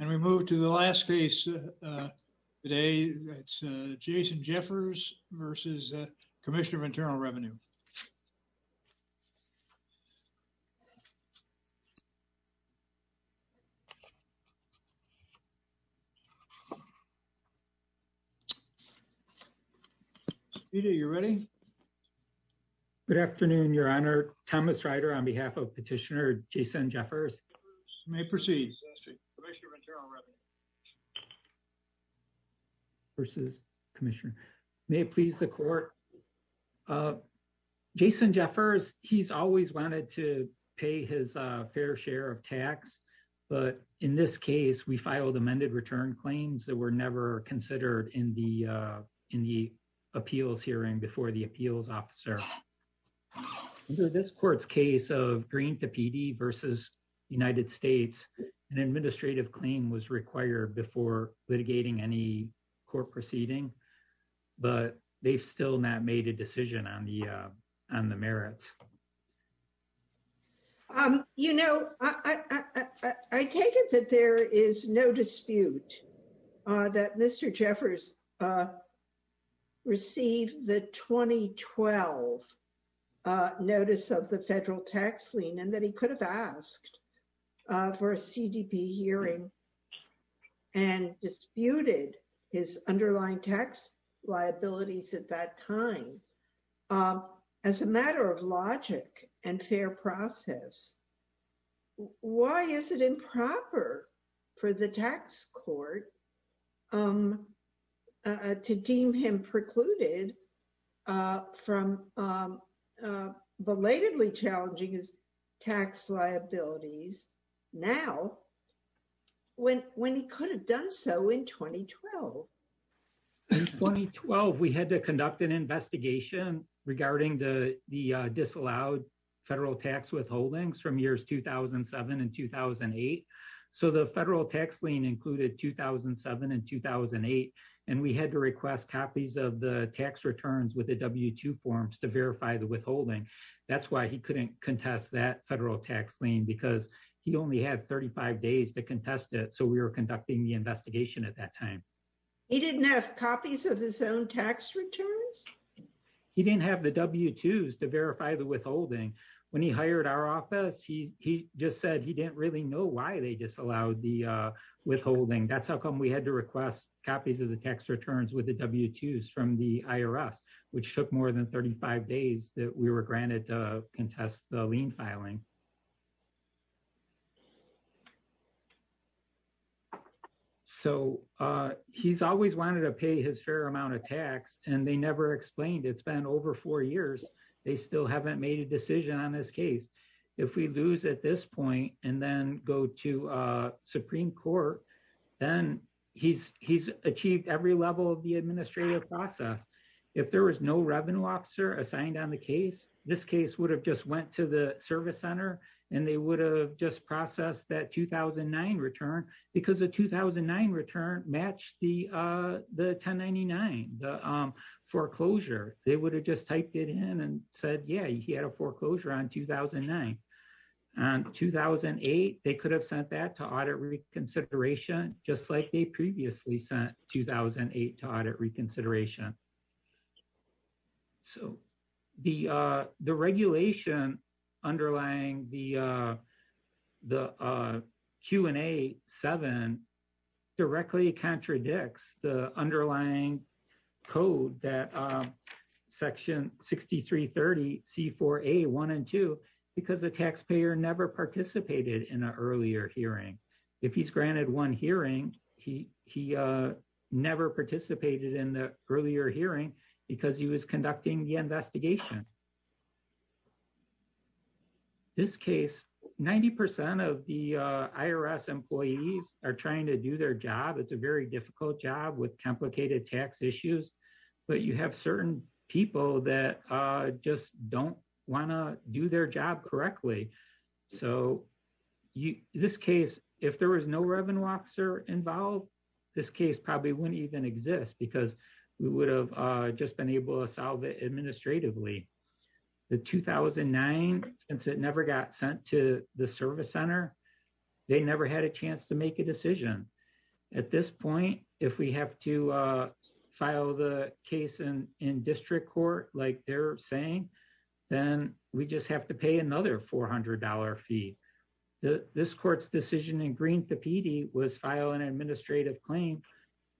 And we move to the last case today. It's Jason Jeffers v. Commissioner of Internal Revenue. Peter, you ready? Good afternoon, Your Honor. Thomas Rider on behalf of Petitioner Jason Jeffers. May it please the court. Jason Jeffers, he's always wanted to pay his fair share of tax, but in this case, we filed amended return claims that were never considered in the appeals hearing before the appeals officer. Under this court's case of Green v. PD v. United States, an administrative claim was required before litigating any court proceeding, but they've still not made a decision on the merits. Um, you know, I take it that there is no dispute that Mr. Jeffers received the 2012 notice of the federal tax lien and that he could have asked for a CDP hearing and disputed his underlying tax liabilities at that time. Um, as a matter of logic and fair process, why is it improper for the tax court, um, to deem him precluded, uh, from, um, uh, belatedly challenging his tax liabilities now when, when he could have done so in 2012? In 2012, we had to conduct an investigation regarding the, the, uh, disallowed federal tax withholdings from years 2007 and 2008. So the federal tax lien included 2007 and 2008, and we had to request copies of the tax returns with the W-2 forms to verify the withholding. That's why he couldn't contest that federal tax because he only had 35 days to contest it. So we were conducting the investigation at that time. He didn't have copies of his own tax returns? He didn't have the W-2s to verify the withholding. When he hired our office, he, he just said he didn't really know why they disallowed the, uh, withholding. That's how come we had to request copies of the tax returns with the W-2s from the IRS, which took more than 35 days that we granted to contest the lien filing. So, uh, he's always wanted to pay his fair amount of tax, and they never explained. It's been over four years. They still haven't made a decision on this case. If we lose at this point and then go to, uh, Supreme Court, then he's, he's achieved every level of the administrative process. If there was no revenue officer assigned on the case, this case would have just went to the service center, and they would have just processed that 2009 return because the 2009 return matched the, uh, the 1099, the, um, foreclosure. They would have just typed it in and said, yeah, he had a foreclosure on 2009. On 2008, they could have sent that to audit reconsideration, just like they previously sent 2008 to audit reconsideration. So, the, uh, the regulation underlying the, uh, the, uh, Q&A 7 directly contradicts the underlying code that, um, section 6330C4A1 and 2 because the taxpayer never participated in an earlier hearing. If he's granted one hearing, he, he, uh, never participated in the earlier hearing because he was conducting the investigation. This case, 90% of the, uh, IRS employees are trying to do their job. It's a very difficult job with complicated tax issues, but you have certain people that, uh, just don't want to do their job correctly. So, you, this case, if there was no revenue officer involved, this case probably wouldn't even exist because we would have, uh, just been able to solve it administratively. The 2009, since it never got sent to the service center, they never had a chance to make a decision. At this point, if we have to, uh, file the case in, in district court, like they're saying, then we just have to pay another $400 fee. The, this court's decision in green to PD was file an administrative claim,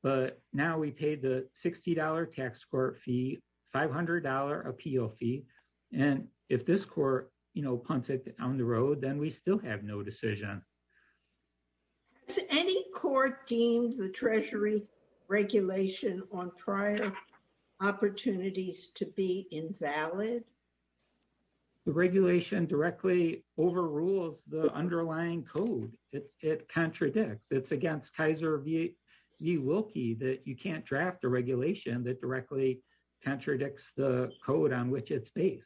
but now we paid the $60 tax court fee, $500 appeal fee, and if this court, you know, punts it on the road, then we still have no decision. Has any court deemed the treasury regulation on trial opportunities to be invalid? The regulation directly overrules the underlying code. It, it contradicts. It's against Kaiser v. Wilkie that you can't draft a regulation that directly contradicts the code on which it's based.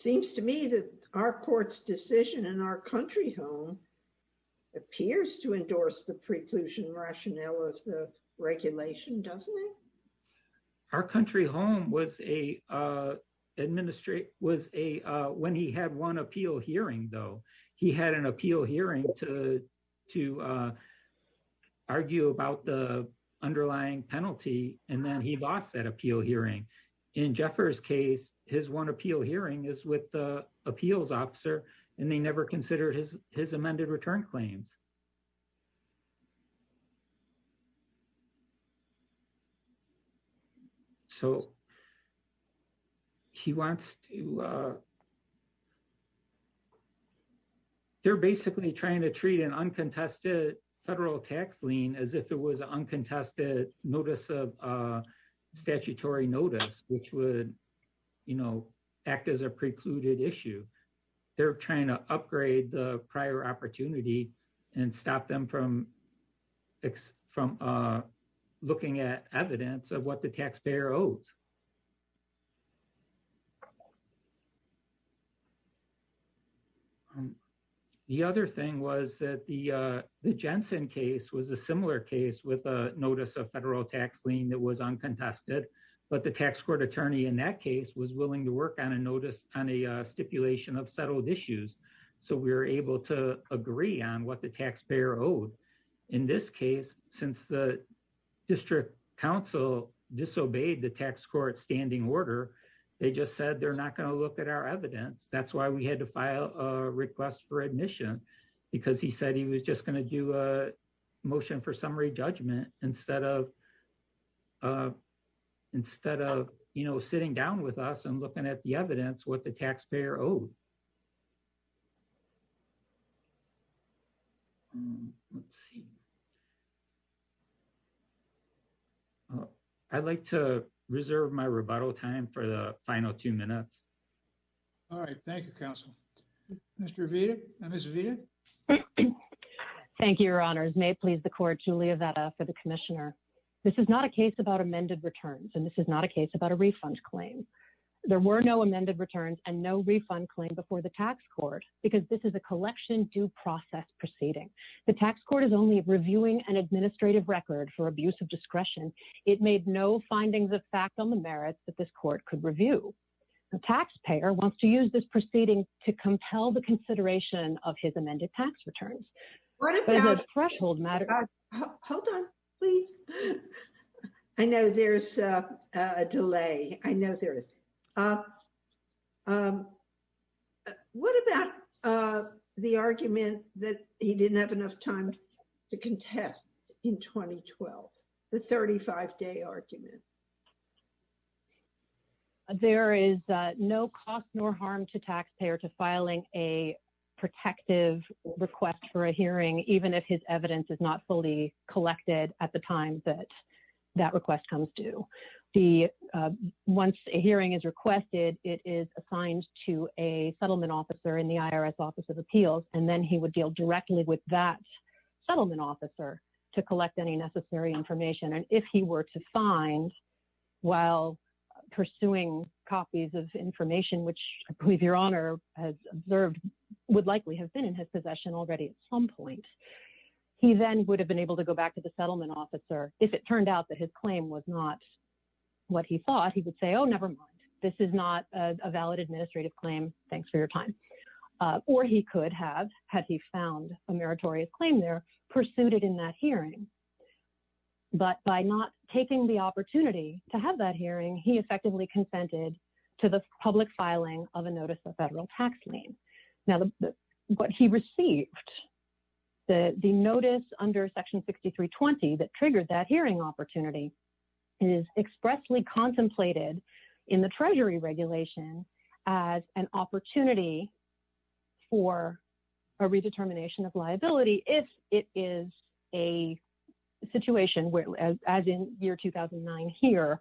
It seems to me that our court's decision in our country home appears to endorse the preclusion rationale of the regulation, doesn't it? Our country home was a, uh, administrate, was a, uh, when he had one appeal hearing though, he had an appeal hearing to, to, uh, argue about the underlying penalty, and then he lost that appeal hearing. In Jeffers' case, his one appeal hearing is with the appeals officer and they never considered his, his amended return claims. So he wants to, uh, they're basically trying to treat an uncontested federal tax lien as if it was uncontested notice of, uh, statutory notice, which would, you know, act as a precluded issue. They're trying to upgrade the prior opportunity and stop them from, from, uh, looking at evidence of what the taxpayer owes. Um, the other thing was that the, uh, the Jensen case was a similar case with a notice of federal tax lien that was uncontested, but the tax court attorney in that case was willing to work on a notice on a stipulation of settled issues. So we were able to agree on what the taxpayer owed. In this case, since the district council disobeyed the tax court's standard of order, they just said, they're not going to look at our evidence. That's why we had to file a request for admission because he said he was just going to do a motion for summary judgment instead of, uh, instead of, you know, sitting down with us and looking at the evidence, what the taxpayer owed. Let's see. Oh, I'd like to reserve my rebuttal time for the final two minutes. All right. Thank you, counsel. Mr. Vita and Ms. Vita. Thank you, your honors. May it please the court, Julia Veta for the commissioner. This is not a case about amended returns, and this is not a case about a refund claim. There were no amended returns and no refund claim before the tax court, because this is a collection due process proceeding. The tax court is only reviewing an administrative record for abuse of discretion. It made no findings of fact on the merits that this court could review. The taxpayer wants to use this proceeding to compel the consideration of his amended tax returns. Hold on, please. I know there's a delay. I know there is. What about the argument that he didn't have enough time to contest in 2012, the 35-day argument? There is no cost nor harm to taxpayer to filing a protective request for a hearing, even if his evidence is not fully collected at the time that that request comes due. Once a hearing is requested, it is assigned to a settlement officer in the IRS Office of Appeals, and then he would deal directly with that settlement officer to collect any necessary information. And if he were to find while pursuing copies of information, which I believe your Honor has observed would likely have been in his possession already at some point, he then would have been able to go back to the settlement officer. If it turned out that his claim was not what he thought, he would say, oh, never mind. This is not a valid administrative claim. Thanks for your time. Or he could have, had he found a meritorious claim there, pursued it in that hearing. But by not taking the opportunity to have that hearing, he effectively consented to the public filing of a notice of federal tax lien. Now, what he received, the notice under Section 6320 that triggered that hearing opportunity is expressly contemplated in the situation as in year 2009 here,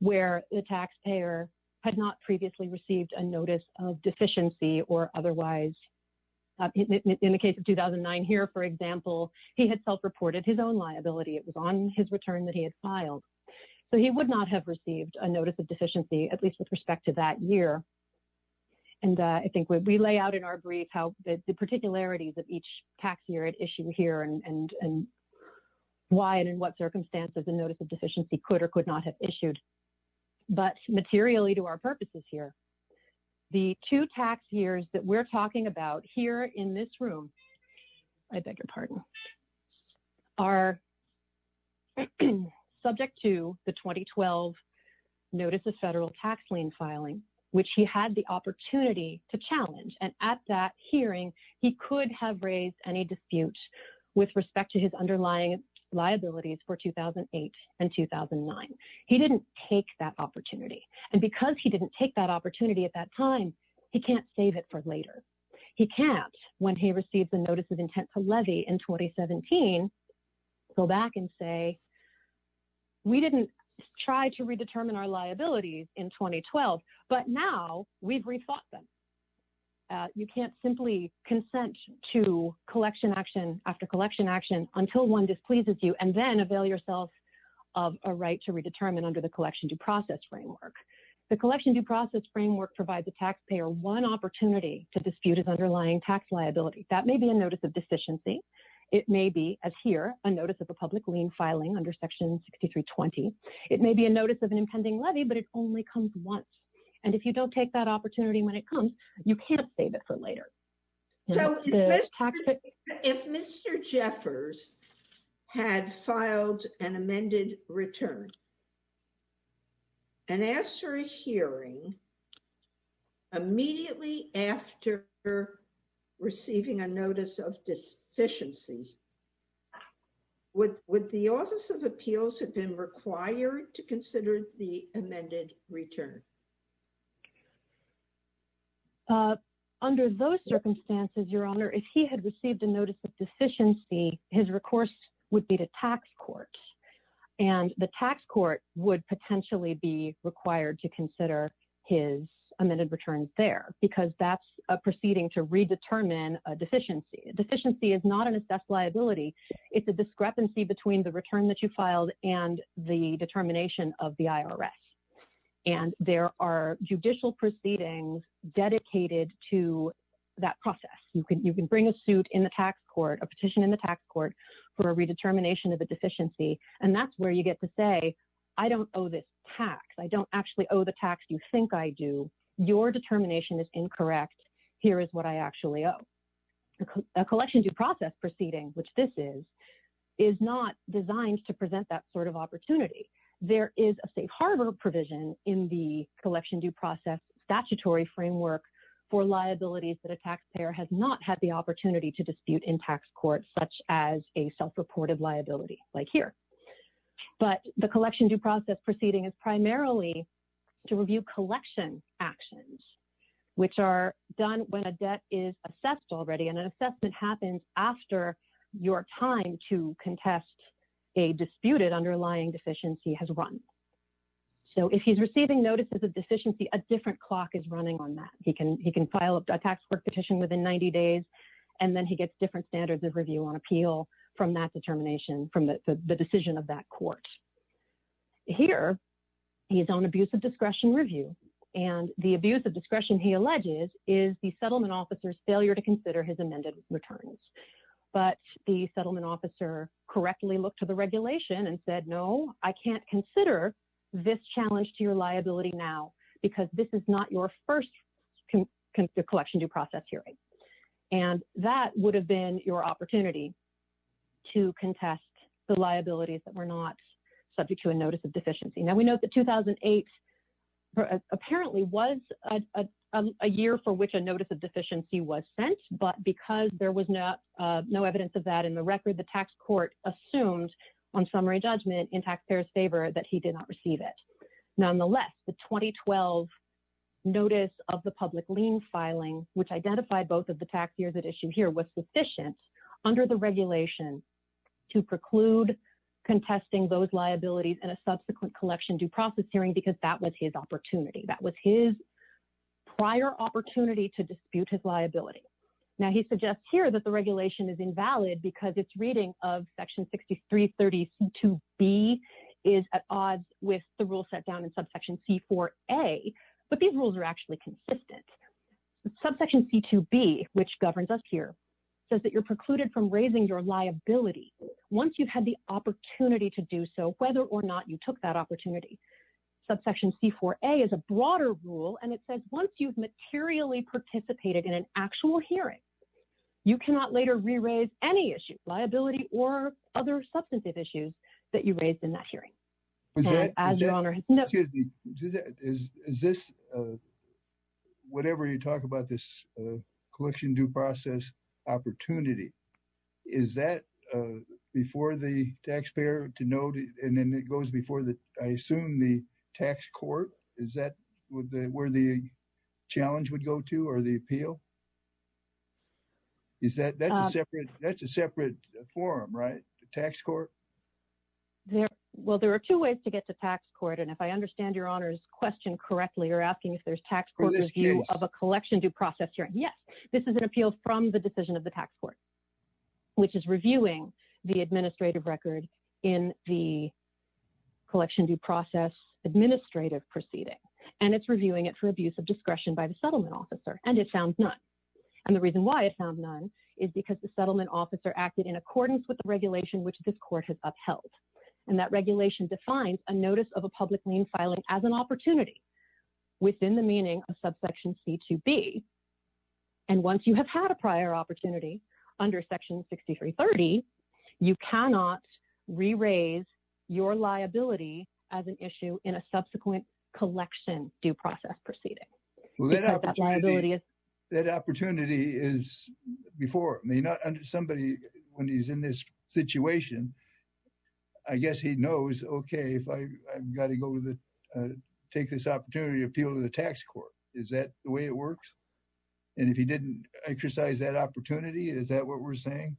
where the taxpayer had not previously received a notice of deficiency or otherwise. In the case of 2009 here, for example, he had self-reported his own liability. It was on his return that he had filed. So he would not have received a notice of deficiency, at least with respect to that year. And I think we lay out in our brief how the particularities of each tax year issue here and why and in what circumstances a notice of deficiency could or could not have issued. But materially to our purposes here, the two tax years that we're talking about here in this room, I beg your pardon, are subject to the 2012 notice of federal tax lien filing, which he had the opportunity to challenge. And at that hearing, he could have raised any dispute with respect to his underlying liabilities for 2008 and 2009. He didn't take that opportunity. And because he didn't take that opportunity at that time, he can't save it for later. He can't, when he received the notice of intent to levy in 2017, go back and say, we didn't try to redetermine our liabilities in 2012, but now we've rethought them. You can't simply consent to collection action after collection action until one displeases you and then avail yourself of a right to redetermine under the collection due process framework. The collection due process framework provides the taxpayer one opportunity to dispute his underlying tax liability. That may be a notice of deficiency. It may be, as here, a notice of a public lien filing under Section 6320. It may be a notice of an impending levy, but it only comes once. And if you don't take that opportunity when it comes, you can't save it for later. If Mr. Jeffers had filed an amended return and asked for a hearing immediately after receiving a notice of deficiency, would the Office of Appeals have been required to consider the amended return? Under those circumstances, Your Honor, if he had received a notice of deficiency, his recourse would be to tax court. And the tax court would potentially be required to consider his amended return there because that's proceeding to redetermine a deficiency. Deficiency is not assessed liability. It's a discrepancy between the return that you filed and the determination of the IRS. And there are judicial proceedings dedicated to that process. You can bring a suit in the tax court, a petition in the tax court for a redetermination of a deficiency, and that's where you get to say, I don't owe this tax. I don't actually owe the tax you think I do. Your determination is incorrect. Here is what I actually owe. A collection due process proceeding, which this is, is not designed to present that sort of opportunity. There is a safe harbor provision in the collection due process statutory framework for liabilities that a taxpayer has not had the opportunity to dispute in tax court, such as a self-reported liability like here. But the which are done when a debt is assessed already and an assessment happens after your time to contest a disputed underlying deficiency has run. So if he's receiving notices of deficiency, a different clock is running on that. He can file a tax court petition within 90 days, and then he gets different standards of review on appeal from that determination, from the decision of that court. Here, he's on abuse of discretion review. And the abuse of discretion, he alleges, is the settlement officer's failure to consider his amended returns. But the settlement officer correctly looked to the regulation and said, no, I can't consider this challenge to your liability now, because this is not your first collection due process hearing. And that would have been your opportunity to contest the liabilities that were not subject to a notice of deficiency. Now, we note that 2008 apparently was a year for which a notice of deficiency was sent. But because there was no evidence of that in the record, the tax court assumed on summary judgment in taxpayers' favor that he did not receive it. Nonetheless, the 2012 notice of the public lien filing, which identified both of the tax years at issue here, was sufficient under the regulation to preclude contesting those his opportunity. That was his prior opportunity to dispute his liability. Now, he suggests here that the regulation is invalid because its reading of Section 6330C2B is at odds with the rule set down in Subsection C4A, but these rules are actually consistent. Subsection C2B, which governs us here, says that you're precluded from raising your liability once you've had the is a broader rule, and it says once you've materially participated in an actual hearing, you cannot later re-raise any issues, liability or other substantive issues, that you raised in that hearing. As your Honor has noted. Excuse me. Is this, whatever you talk about this collection due process opportunity, is that before the taxpayer to note, and then it goes before the, I assume the tax court, is that where the challenge would go to or the appeal? Is that, that's a separate, that's a separate forum, right? The tax court? Well, there are two ways to get to tax court, and if I understand your Honor's question correctly, you're asking if there's tax court review of a collection due process hearing. Yes, this is an appeal from the decision of the tax court, which is reviewing the administrative record in the collection due process administrative proceeding, and it's reviewing it for abuse of discretion by the settlement officer, and it found none, and the reason why it found none is because the settlement officer acted in accordance with the regulation which this court has upheld, and that regulation defines a notice of a public lien filing as an opportunity within the meaning of subsection c2b, and once you have had a prior opportunity under section 6330, you cannot re-raise your liability as an issue in a subsequent collection due process proceeding. That opportunity is before me, not under somebody when he's in this situation. I guess he knows, okay, if I've got to go to the, take this opportunity to appeal to the tax court. Is that the way it works? And if he didn't exercise that opportunity, is that what we're saying?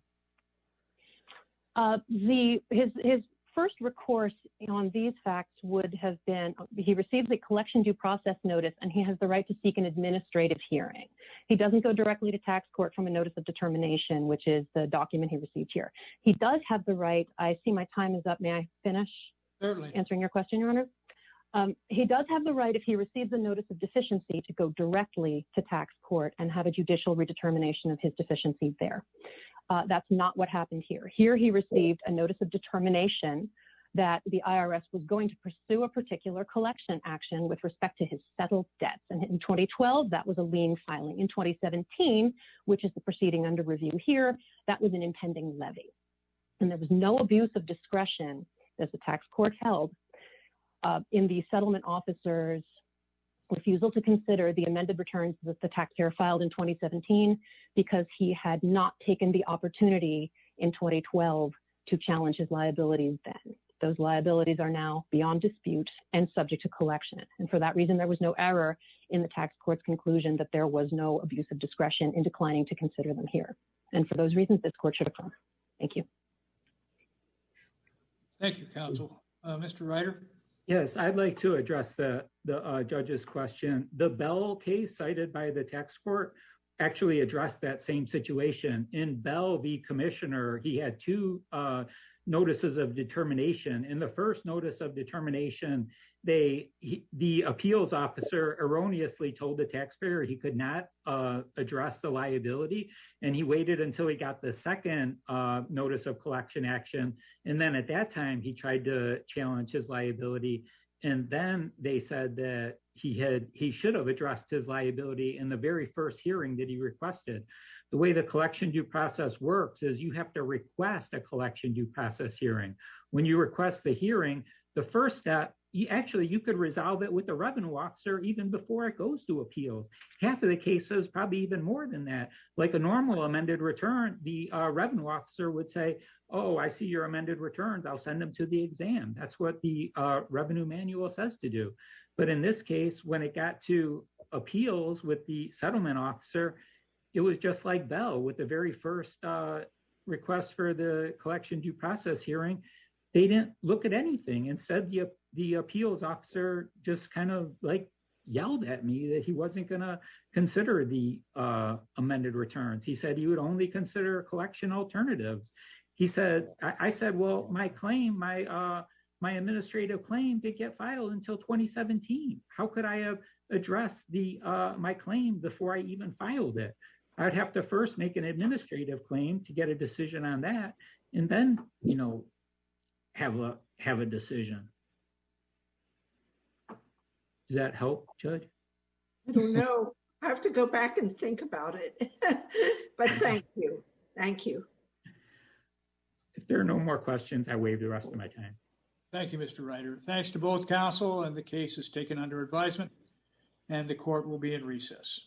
The, his first recourse on these facts would have been, he received a collection due process notice, and he has the right to seek an administrative hearing. He doesn't go directly to tax court from a notice of determination, which is the document he received here. He does have the right, I see my time is up. May I finish answering your question, your honor? He does have the right, if he receives a notice of deficiency, to go directly to tax court and have a judicial redetermination of his deficiency there. That's not what happened here. Here he received a notice of determination that the IRS was going to pursue a particular collection action with respect to his settled debts, and in 2012, that was a lien filing. In 2017, which is the levy. And there was no abuse of discretion, as the tax court held, in the settlement officer's refusal to consider the amended returns that the tax payer filed in 2017, because he had not taken the opportunity in 2012 to challenge his liabilities then. Those liabilities are now beyond dispute and subject to collection. And for that reason, there was no error in the tax court's conclusion that there was no abuse of discretion in declining to consider them here. And for those reasons, this court should oppose. Thank you. Thank you, counsel. Mr. Ryder? Yes, I'd like to address the judge's question. The Bell case cited by the tax court actually addressed that same situation. In Bell v. Commissioner, he had two notices of determination. In the first notice of determination, the appeals officer erroneously told the taxpayer he could not address the second notice of collection action. And then at that time, he tried to challenge his liability. And then they said that he should have addressed his liability in the very first hearing that he requested. The way the collection due process works is you have to request a collection due process hearing. When you request the hearing, the first step, actually, you could resolve it with the revenue officer even before it goes to appeals. Half of the cases, probably even more than that. Like a normal amended return, the revenue officer would say, oh, I see your amended returns. I'll send them to the exam. That's what the revenue manual says to do. But in this case, when it got to appeals with the settlement officer, it was just like Bell with the very first request for the collection due process hearing. They didn't look at anything. Instead, the appeals officer just yelled at me that he wasn't going to consider the amended returns. He said he would only consider collection alternatives. I said, well, my administrative claim did get filed until 2017. How could I have addressed my claim before I even filed it? I'd have to first make an administrative claim to get a decision on that and then have a decision. Does that help, Judge? No. I have to go back and think about it. But thank you. Thank you. If there are no more questions, I waive the rest of my time. Thank you, Mr. Ryder. Thanks to both counsel and the cases taken under advisement. And the court will be in recess.